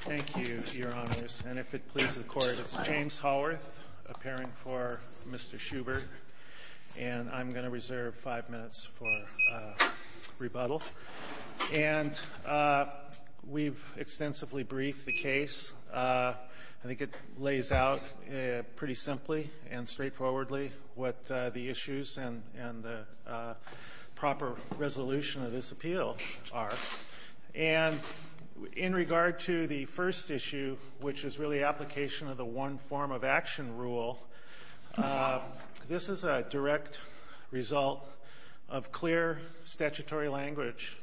Thank you, Your Honors. And if it pleases the Court, it's James Haworth, a parent for Mr. Schubert, and I'm going to reserve five minutes for rebuttal. And we've extensively briefed the case. I think it lays out pretty simply and straightforwardly what the issues and the proper resolution of this appeal are. And in regard to the first issue, which is really application of the one form of action rule, this is a direct result of clear statutory language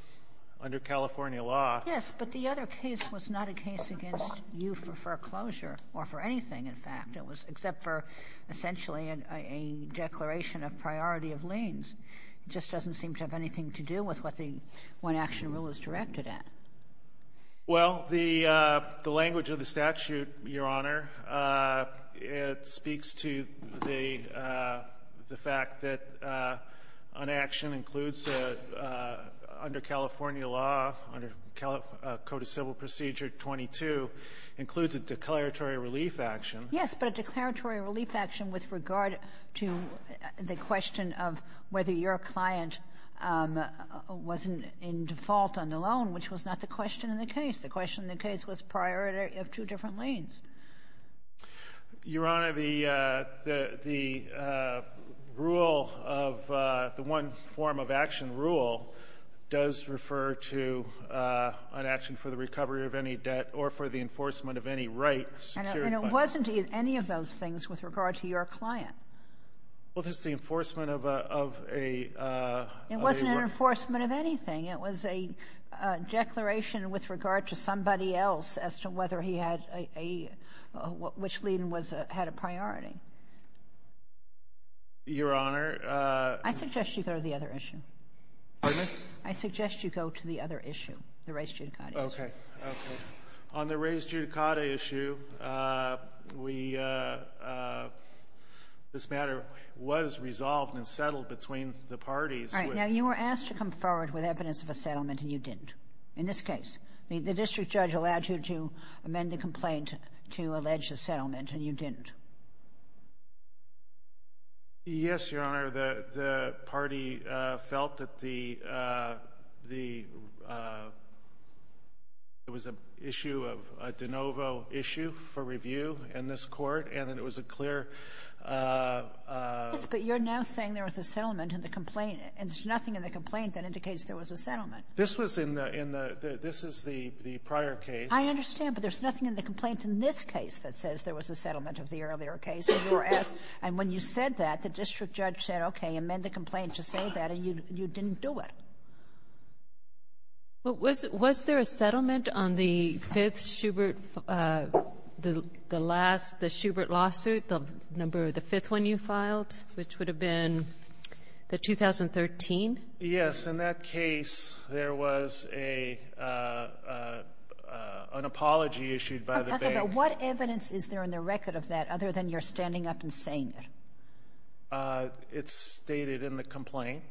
under California law. Yes, but the other case was not a case against you for foreclosure or for anything, in fact. It was except for essentially a declaration of priority of liens. It just doesn't seem to have anything to do with what the one action rule is directed at. Well, the language of the statute, Your Honor, it speaks to the fact that an action includes under California law, under Code of Civil Procedure 22, includes a declaratory relief action. Yes, but a declaratory relief action with regard to the question of whether your client was in default on the loan, which was not the question in the case. The question in the case was priority of two different liens. Your Honor, the rule of the one form of action rule does refer to an action for the recovery of any debt or for the enforcement of any right secured by the law. And it wasn't any of those things with regard to your client. Well, this is the enforcement of a ---- It wasn't an enforcement of anything. It was a declaration with regard to somebody else as to whether he had a ---- which lien had a priority. Your Honor ---- I suggest you go to the other issue. Pardon me? I suggest you go to the other issue, the raised judicata issue. Okay. Okay. On the raised judicata issue, we ---- this matter was resolved and settled between the parties. All right. Now, you were asked to come forward with evidence of a settlement, and you didn't in this case. The district judge allowed you to amend the complaint to allege a settlement, and you didn't. Yes, Your Honor. Your Honor, the party felt that the ---- it was an issue of a de novo issue for review in this court, and it was a clear ---- Yes, but you're now saying there was a settlement in the complaint, and there's nothing in the complaint that indicates there was a settlement. This was in the ---- this is the prior case. I understand, but there's nothing in the complaint in this case that says there was a settlement of the earlier case. And when you said that, the district judge said, okay, amend the complaint to say that, and you didn't do it. Was there a settlement on the fifth Schubert, the last, the Schubert lawsuit, the number, the fifth one you filed, which would have been the 2013? Yes. In that case, there was an apology issued by the bank. Now, what evidence is there in the record of that other than you're standing up and saying it? It's stated in the complaint.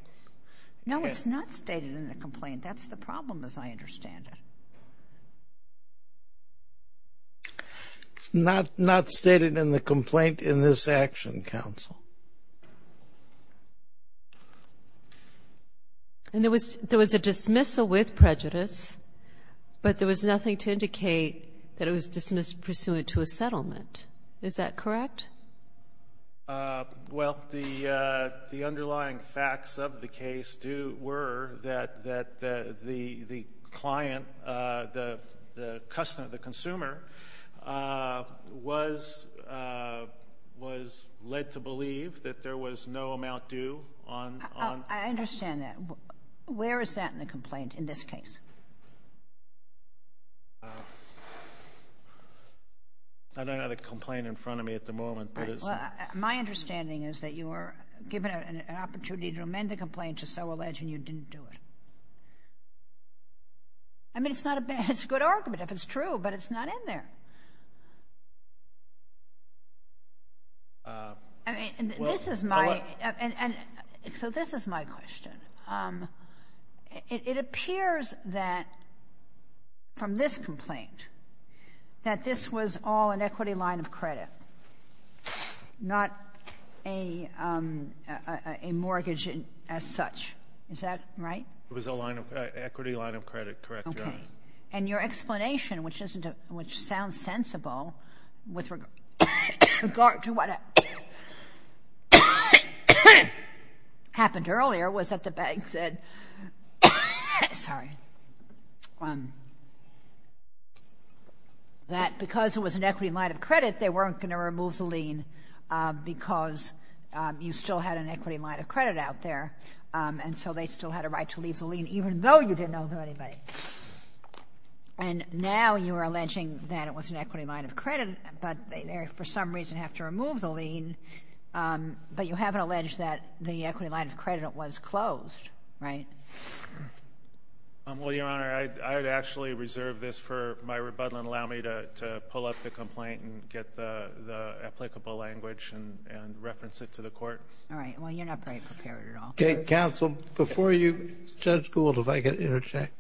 No, it's not stated in the complaint. That's the problem, as I understand it. It's not stated in the complaint in this action, Counsel. And there was a dismissal with prejudice, but there was nothing to indicate that it was dismissed pursuant to a settlement. Is that correct? Well, the underlying facts of the case were that the client, the customer, the consumer, was led to believe that there was no amount due on ---- I understand that. Where is that in the complaint in this case? I don't have the complaint in front of me at the moment, but it's ---- Well, my understanding is that you were given an opportunity to amend the complaint to so allege and you didn't do it. I mean, it's not a bad ---- it's a good argument if it's true, but it's not in there. I mean, this is my ---- and so this is my question. It appears that from this complaint that this was all an equity line of credit, not a mortgage as such. Is that right? It was a line of ---- equity line of credit. Correct, Your Honor. And your explanation, which sounds sensible with regard to what happened earlier, was that the bank said ---- sorry ---- that because it was an equity line of credit, they weren't going to remove the lien because you still had an equity line of credit out there, and so they still had a right to leave the lien even though you didn't owe them anybody. And now you are alleging that it was an equity line of credit, but they, for some reason, have to remove the lien, but you haven't alleged that the equity line of credit was closed, right? Well, Your Honor, I would actually reserve this for my rebuttal and allow me to pull up the complaint and get the applicable language and reference it to the Court. All right. Well, you're not very prepared at all. Counsel, before you ---- Judge Gould, if I could interject.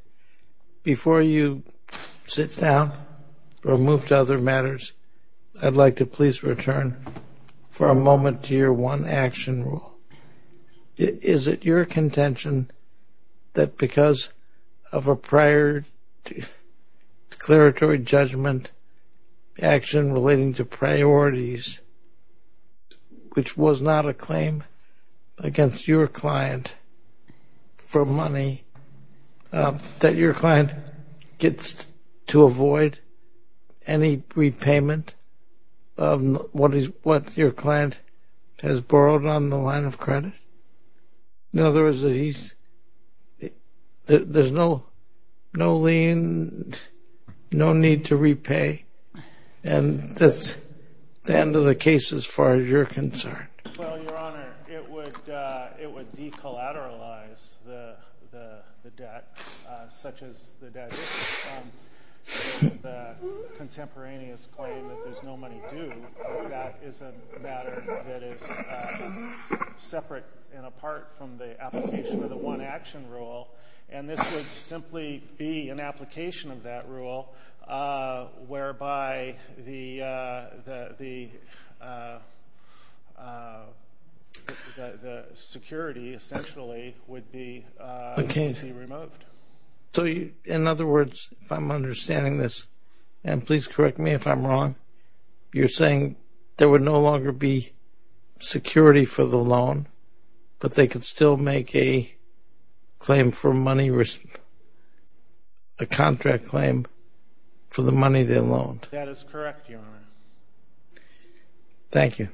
Before you sit down or move to other matters, I'd like to please return for a moment to your one-action rule. Is it your contention that because of a prior declaratory judgment action relating to priorities, which was not a claim against your client for money, that your client gets to avoid any repayment of what your client has borrowed on the line of credit? In other words, there's no lien, no need to repay, and that's the end of the case as far as you're concerned. Well, Your Honor, it would decollateralize the debt such as the debt is. The contemporaneous claim that there's no money due, that is a matter that is separate and apart from the application of the one-action rule, and this would simply be an application of that rule whereby the security essentially would be removed. So in other words, if I'm understanding this, and please correct me if I'm wrong, you're saying there would no longer be security for the loan, but they could still make a contract claim for the money they loaned? That is correct, Your Honor. Thank you.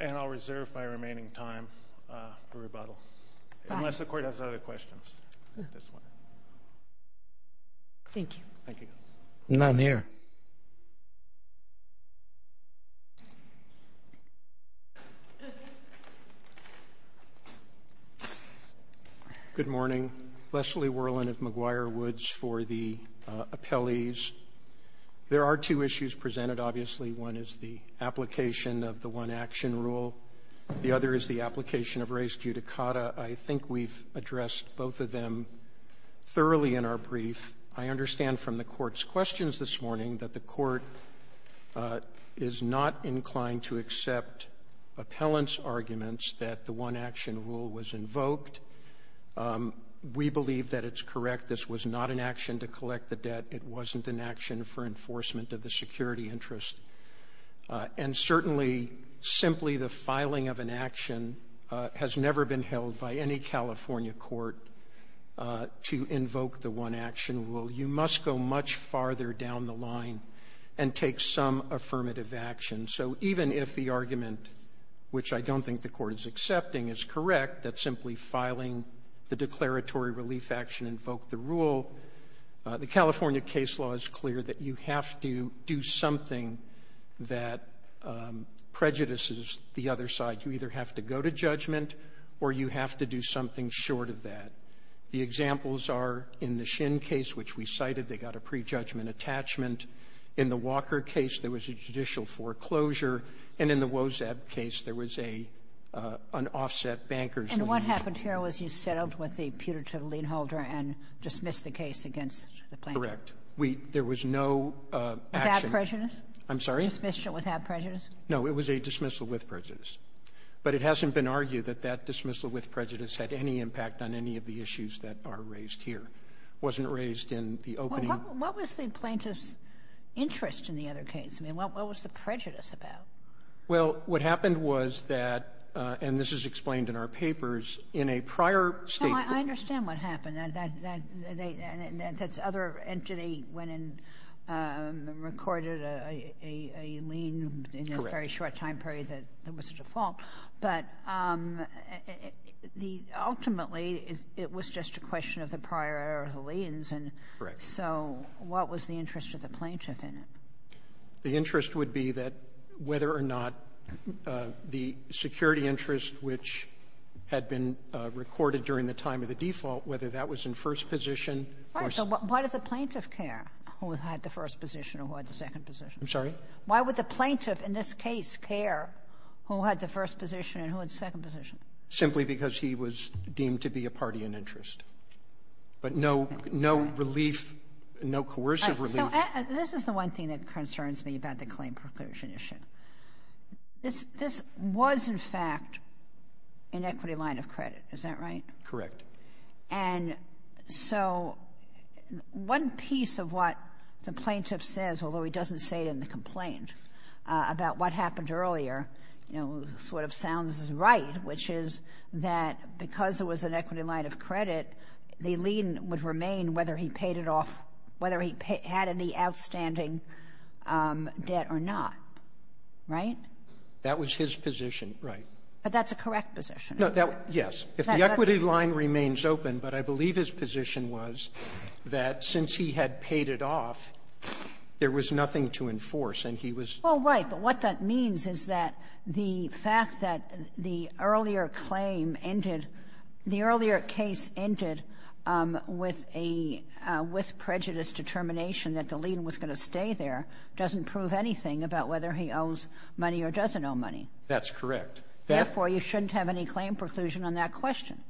And I'll reserve my remaining time for rebuttal. Unless the Court has other questions. Thank you. None here. Good morning. Leslie Worland of McGuire Woods for the appellees. There are two issues presented, obviously. One is the application of the one-action rule. The other is the application of res judicata. I think we've addressed both of them thoroughly in our brief. I understand from the Court's questions this morning that the Court is not inclined to accept appellant's arguments that the one-action rule was invoked. We believe that it's correct. This was not an action to collect the debt. It wasn't an action for enforcement of the security interest. And certainly, simply the filing of an action has never been held by any California court to invoke the one-action rule. You must go much farther down the line and take some affirmative action. So even if the argument, which I don't think the Court is accepting, is correct, that simply filing the declaratory relief action invoked the rule, the California case law is clear that you have to do something that prejudices the other side. You either have to go to judgment or you have to do something short of that. The examples are in the Shin case, which we cited, they got a prejudgment attachment. In the Walker case, there was a judicial foreclosure. And in the Wozzeb case, there was an offset banker's relief. What happened here was you settled with the putative lien holder and dismissed the case against the plaintiff. Correct. There was no action. Without prejudice? I'm sorry? Dismissed it without prejudice? No, it was a dismissal with prejudice. But it hasn't been argued that that dismissal with prejudice had any impact on any of the issues that are raised here. It wasn't raised in the opening. What was the plaintiff's interest in the other case? I mean, what was the prejudice about? Well, what happened was that, and this is explained in our papers, in a prior statement. No, I understand what happened. That other entity went and recorded a lien in a very short time period that was a default. But ultimately, it was just a question of the prior liens. Correct. So what was the interest of the plaintiff in it? The interest would be that whether or not the security interest which had been recorded during the time of the default, whether that was in first position or so. Why does the plaintiff care who had the first position or who had the second position? I'm sorry? Why would the plaintiff in this case care who had the first position and who had the second position? Simply because he was deemed to be a party in interest. But no relief, no coercive relief. This is the one thing that concerns me about the claim preclusion issue. This was, in fact, an equity line of credit. Is that right? Correct. And so one piece of what the plaintiff says, although he doesn't say it in the complaint, about what happened earlier, you know, sort of sounds right, which is that because it was an equity line of credit, the lien would remain whether he paid it off, whether he had any outstanding debt or not. Right? That was his position. Right. But that's a correct position. No. Yes. If the equity line remains open, but I believe his position was that since he had paid it off, there was nothing to enforce and he was. Well, right. But what that means is that the fact that the earlier claim ended, the earlier case ended with a, with prejudiced determination that the lien was going to stay there doesn't prove anything about whether he owes money or doesn't owe money. That's correct. Therefore, you shouldn't have any claim preclusion on that question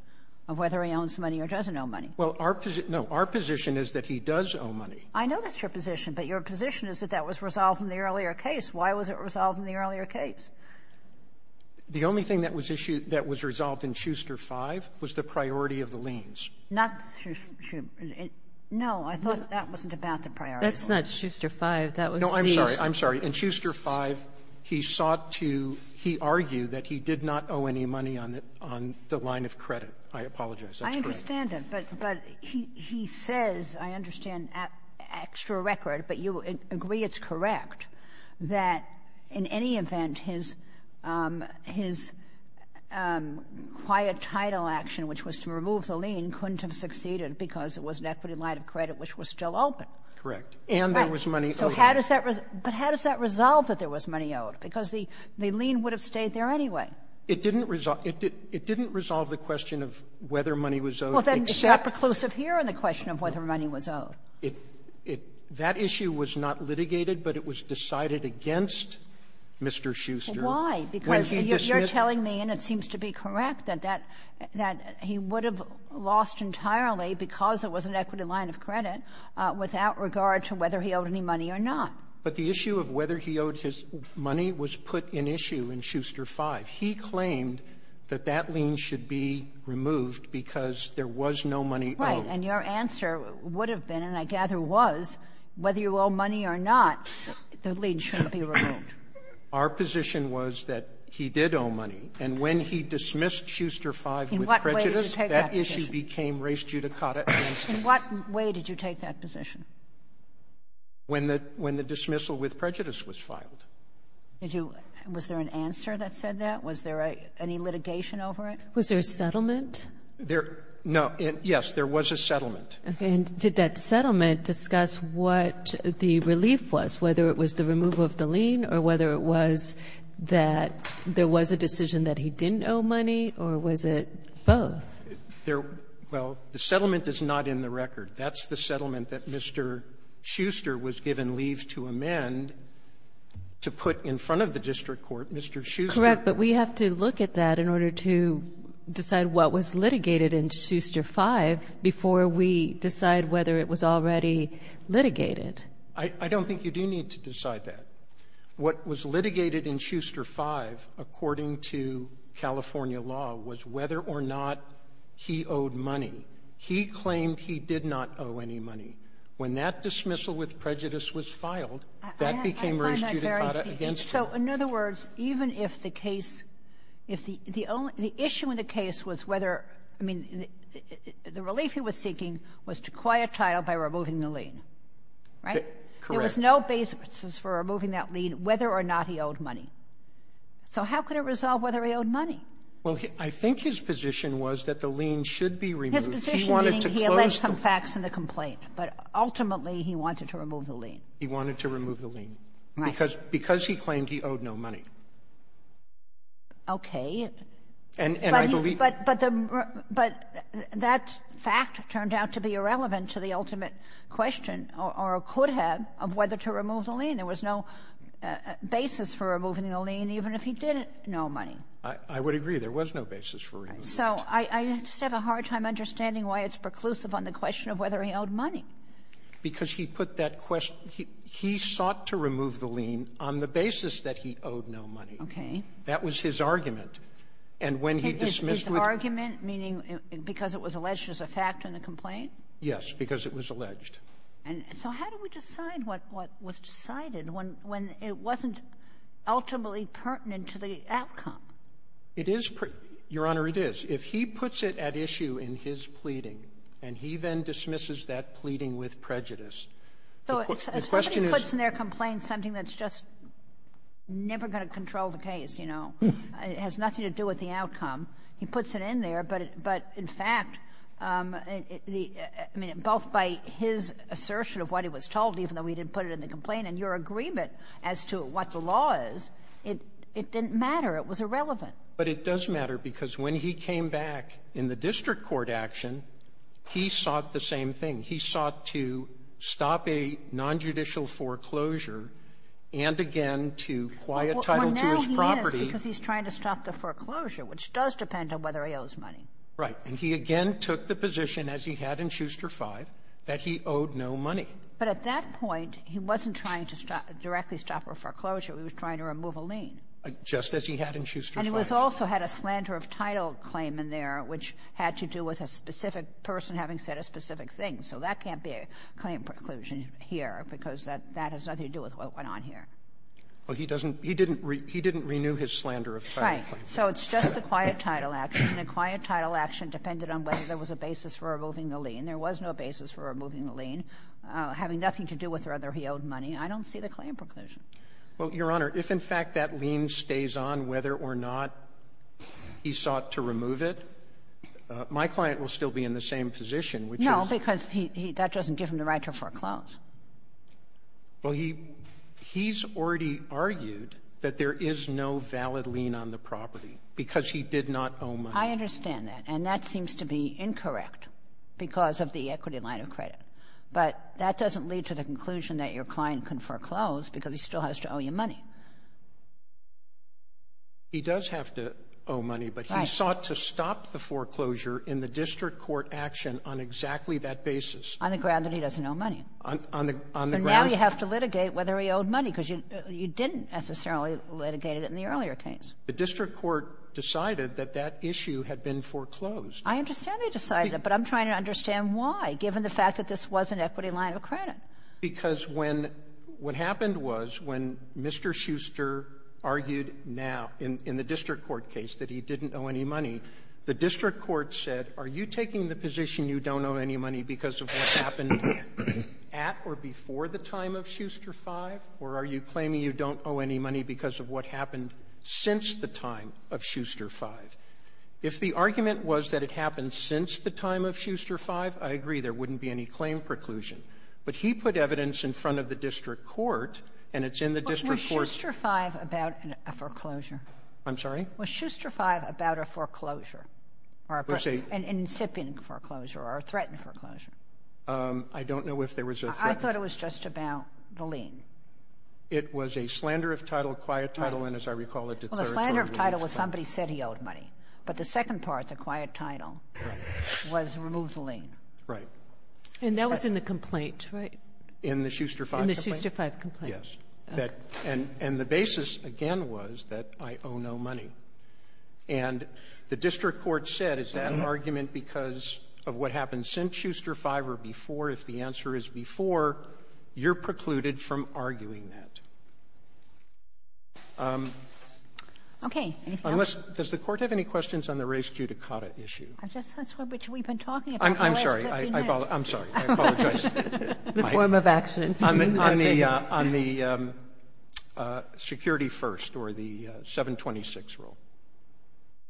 of whether he owns money or doesn't owe money. Well, our position, no, our position is that he does owe money. I know that's your position, but your position is that that was resolved in the earlier case. Why was it resolved in the earlier case? The only thing that was issued, that was resolved in Schuster V was the priority of the liens. Not Schuster. No, I thought that wasn't about the priority. That's not Schuster V. No, I'm sorry. I'm sorry. In Schuster V, he sought to, he argued that he did not owe any money on the, on the line of credit. I apologize. I understand that. But he says, I understand, at extra record, but you agree it's correct, that in any event, his, his quiet title action, which was to remove the lien, couldn't have succeeded because it was an equity line of credit which was still open. Correct. And there was money owed. So how does that, but how does that resolve that there was money owed? Because the lien would have stayed there anyway. It didn't resolve, it didn't resolve the question of whether money was owed except Well, then, is that preclusive here in the question of whether money was owed? It, it, that issue was not litigated, but it was decided against Mr. Schuster when he dismissed. Well, why? Because you're telling me, and it seems to be correct, that that, that he would have lost entirely because it was an equity line of credit without regard to whether he owed any money or not. But the issue of whether he owed his money was put in issue in Schuster V. He claimed that that lien should be removed because there was no money owed. Right. And your answer would have been, and I gather was, whether you owe money or not, the lien shouldn't be removed. Our position was that he did owe money. And when he dismissed Schuster V with prejudice, that issue became race judicata against him. In what way did you take that position? When the, when the dismissal with prejudice was filed. Did you was there an answer that said that? Was there a, any litigation over it? Was there a settlement? There, no, and yes, there was a settlement. Okay. And did that settlement discuss what the relief was, whether it was the removal of the lien or whether it was that there was a decision that he didn't owe money, or was it both? There, well, the settlement is not in the record. That's the settlement that Mr. Schuster was given leave to amend to put in front of the district court, Mr. Schuster. Correct. But we have to look at that in order to decide what was litigated in Schuster V before we decide whether it was already litigated. I don't think you do need to decide that. What was litigated in Schuster V, according to California law, was whether or not he owed money. He claimed he did not owe any money. When that dismissal with prejudice was filed, that became raised judicata against him. So, in other words, even if the case, if the only issue in the case was whether the relief he was seeking was to acquire a title by removing the lien, right? Correct. There was no basis for removing that lien whether or not he owed money. So how could it resolve whether he owed money? Well, I think his position was that the lien should be removed. His position meaning he alleged some facts in the complaint, but ultimately he wanted to remove the lien. He wanted to remove the lien. Right. Because he claimed he owed no money. Okay. And I believe he owed no money. But that fact turned out to be irrelevant to the ultimate question or could have of whether to remove the lien. There was no basis for removing the lien even if he did owe money. I would agree. There was no basis for removing the lien. So I just have a hard time understanding why it's preclusive on the question of whether he owed money. Because he put that question he sought to remove the lien on the basis that he owed no money. Okay. That was his argument. And when he dismissed with His argument meaning because it was alleged as a fact in the complaint? Yes, because it was alleged. So how do we decide what was decided when it wasn't ultimately pertinent to the outcome? It is, Your Honor, it is. If he puts it at issue in his pleading, and he then dismisses that pleading with prejudice, the question is So if somebody puts in their complaint something that's just never going to control the case, you know, it has nothing to do with the outcome, he puts it in there, but in fact, I mean, both by his assertion of what he was told, even though he didn't put it in the complaint and your agreement as to what the law is, it didn't matter. It was irrelevant. But it does matter because when he came back in the district court action, he sought the same thing. He sought to stop a nonjudicial foreclosure and again to acquire a title to his property. Well, now he is, because he's trying to stop the foreclosure, which does depend on whether he owes money. Right. And he again took the position, as he had in Schuster V, that he owed no money. But at that point, he wasn't trying to directly stop a foreclosure. He was trying to remove a lien. Just as he had in Schuster V. And he also had a slander of title claim in there, which had to do with a specific person having said a specific thing. So that can't be a claim preclusion here, because that has nothing to do with what went on here. Well, he doesn't he didn't he didn't renew his slander of title claim. Right. So it's just a quiet title action, and a quiet title action depended on whether there was a basis for removing the lien. There was no basis for removing the lien, having nothing to do with whether he owed money. I don't see the claim preclusion. Well, Your Honor, if in fact that lien stays on, whether or not he sought to remove it, my client will still be in the same position, which is No, because he that doesn't give him the right to foreclose. Well, he he's already argued that there is no valid lien on the property because he did not owe money. I understand that. But that doesn't lead to the conclusion that your client can foreclose because he still has to owe you money. He does have to owe money, but he sought to stop the foreclosure in the district court action on exactly that basis. On the ground that he doesn't owe money. On the ground that he doesn't owe money. On the ground that he doesn't owe money. So now you have to litigate whether he owed money, because you didn't necessarily litigate it in the earlier case. The district court decided that that issue had been foreclosed. I understand they decided it, but I'm trying to understand why, given the fact that this was an equity line of credit. Because when what happened was when Mr. Shuster argued now in the district court case that he didn't owe any money, the district court said, are you taking the position you don't owe any money because of what happened at or before the time of Shuster V, or are you claiming you don't owe any money because of what happened since the time of Shuster V? If the argument was that it happened since the time of Shuster V, I agree. There wouldn't be any claim preclusion. But he put evidence in front of the district court, and it's in the district court's ---- But was Shuster V about a foreclosure? I'm sorry? Was Shuster V about a foreclosure or an incipient foreclosure or a threatened foreclosure? I don't know if there was a threatened ---- I thought it was just about the lien. It was a slander of title, quiet title, and, as I recall, a declaratory lien of title. Somebody said he owed money. But the second part, the quiet title, was remove the lien. Right. And that was in the complaint, right? In the Shuster V complaint? In the Shuster V complaint. Yes. And the basis, again, was that I owe no money. And the district court said, is that an argument because of what happened since Shuster V or before? If the answer is before, you're precluded from arguing that. Okay. Anything else? Unless ---- Does the Court have any questions on the race judicata issue? That's what we've been talking about the last 15 minutes. I'm sorry. I apologize. The form of accident. On the security first or the 726 rule.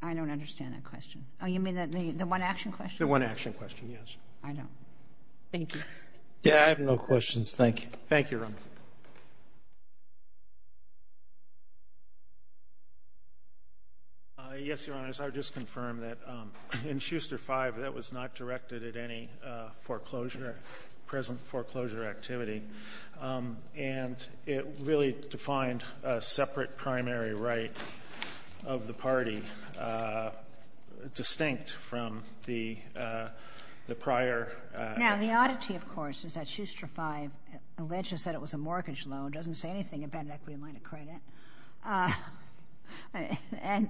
I don't understand that question. Oh, you mean the one-action question? The one-action question, yes. I don't. Thank you. I have no questions. Thank you. Thank you, Your Honor. Yes, Your Honor, as I just confirmed, that in Shuster V, that was not directed at any foreclosure, present foreclosure activity. And it really defined a separate primary right of the party, distinct from the prior Now, the oddity, of course, is that Shuster V alleges that it was a mortgage loan. It doesn't say anything about an equity line of credit. And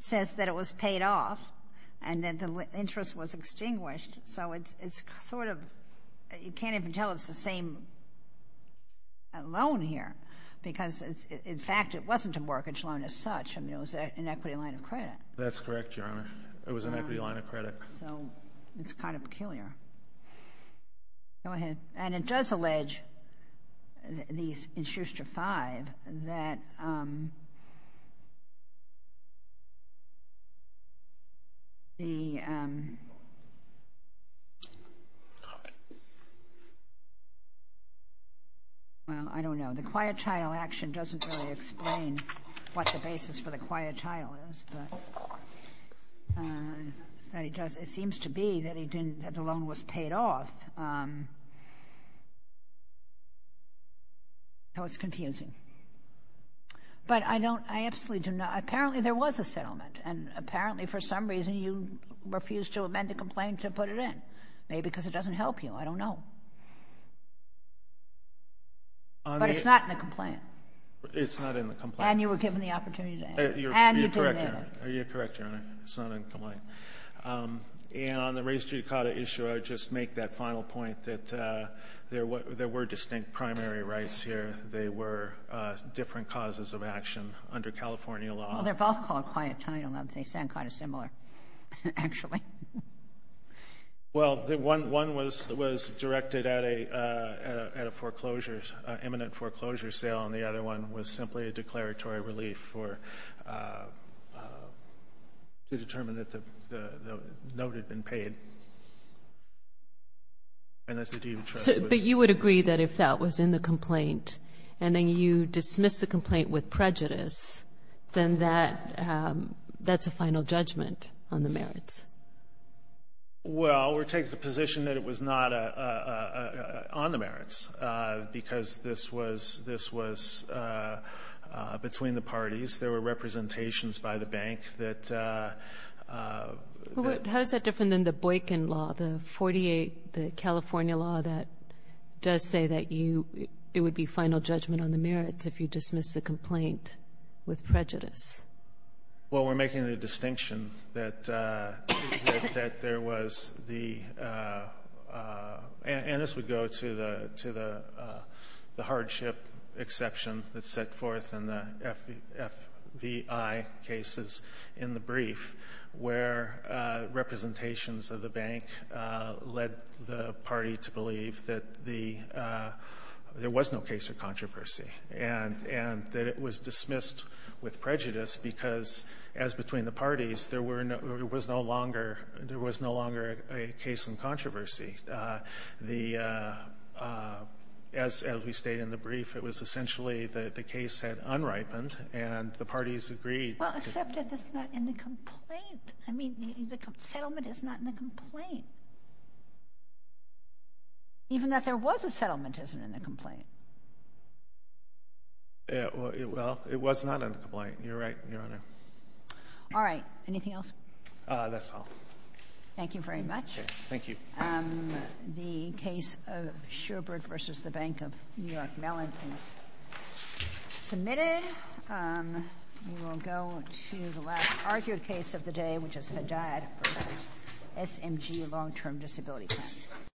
says that it was paid off and that the interest was extinguished. So it's sort of, you can't even tell it's the same loan here because, in fact, it wasn't a mortgage loan as such. I mean, it was an equity line of credit. That's correct, Your Honor. It was an equity line of credit. So it's kind of peculiar. Go ahead. And it does allege, in Shuster V, that the, well, I don't know. The quiet title action doesn't really explain what the basis for the quiet title is. But it seems to be that he didn't, that the loan was paid off. So it's confusing. But I don't, I absolutely do not, apparently there was a settlement. And apparently, for some reason, you refused to amend the complaint to put it in. Maybe because it doesn't help you. I don't know. But it's not in the complaint. And you were given the opportunity to add it. You're correct, Your Honor. And you didn't amend it. You're correct, Your Honor. It's not in the complaint. And on the raised judicata issue, I would just make that final point that there were distinct primary rights here. They were different causes of action under California law. Well, they're both called quiet title. They sound kind of similar, actually. Well, one was directed at a foreclosure, an imminent foreclosure sale, and the other one was simply a declaratory relief to determine that the note had been paid. But you would agree that if that was in the complaint and then you dismiss the complaint with prejudice, then that's a final judgment on the merits. Well, we're taking the position that it was not on the merits because this was between the parties. There were representations by the bank that... How is that different than the Boykin law, the 48, the California law that does say that it would be final judgment on the merits if you dismiss the complaint with prejudice? Well, we're making the distinction that there was the... And this would go to the hardship exception that's set forth in the FBI cases in the brief where representations of the bank led the party to believe that there was no case of prejudice because, as between the parties, there was no longer a case in controversy. As we state in the brief, it was essentially that the case had unripened and the parties agreed... Well, except if it's not in the complaint. I mean, the settlement is not in the complaint. Well, it was not in the complaint. You're right, Your Honor. All right. Anything else? That's all. Thank you very much. Okay. Thank you. The case of Schubert v. The Bank of New York Mellon is submitted. We will go to the last argued case of the day, which is Haddad v. SMG Long-Term Disability Plan.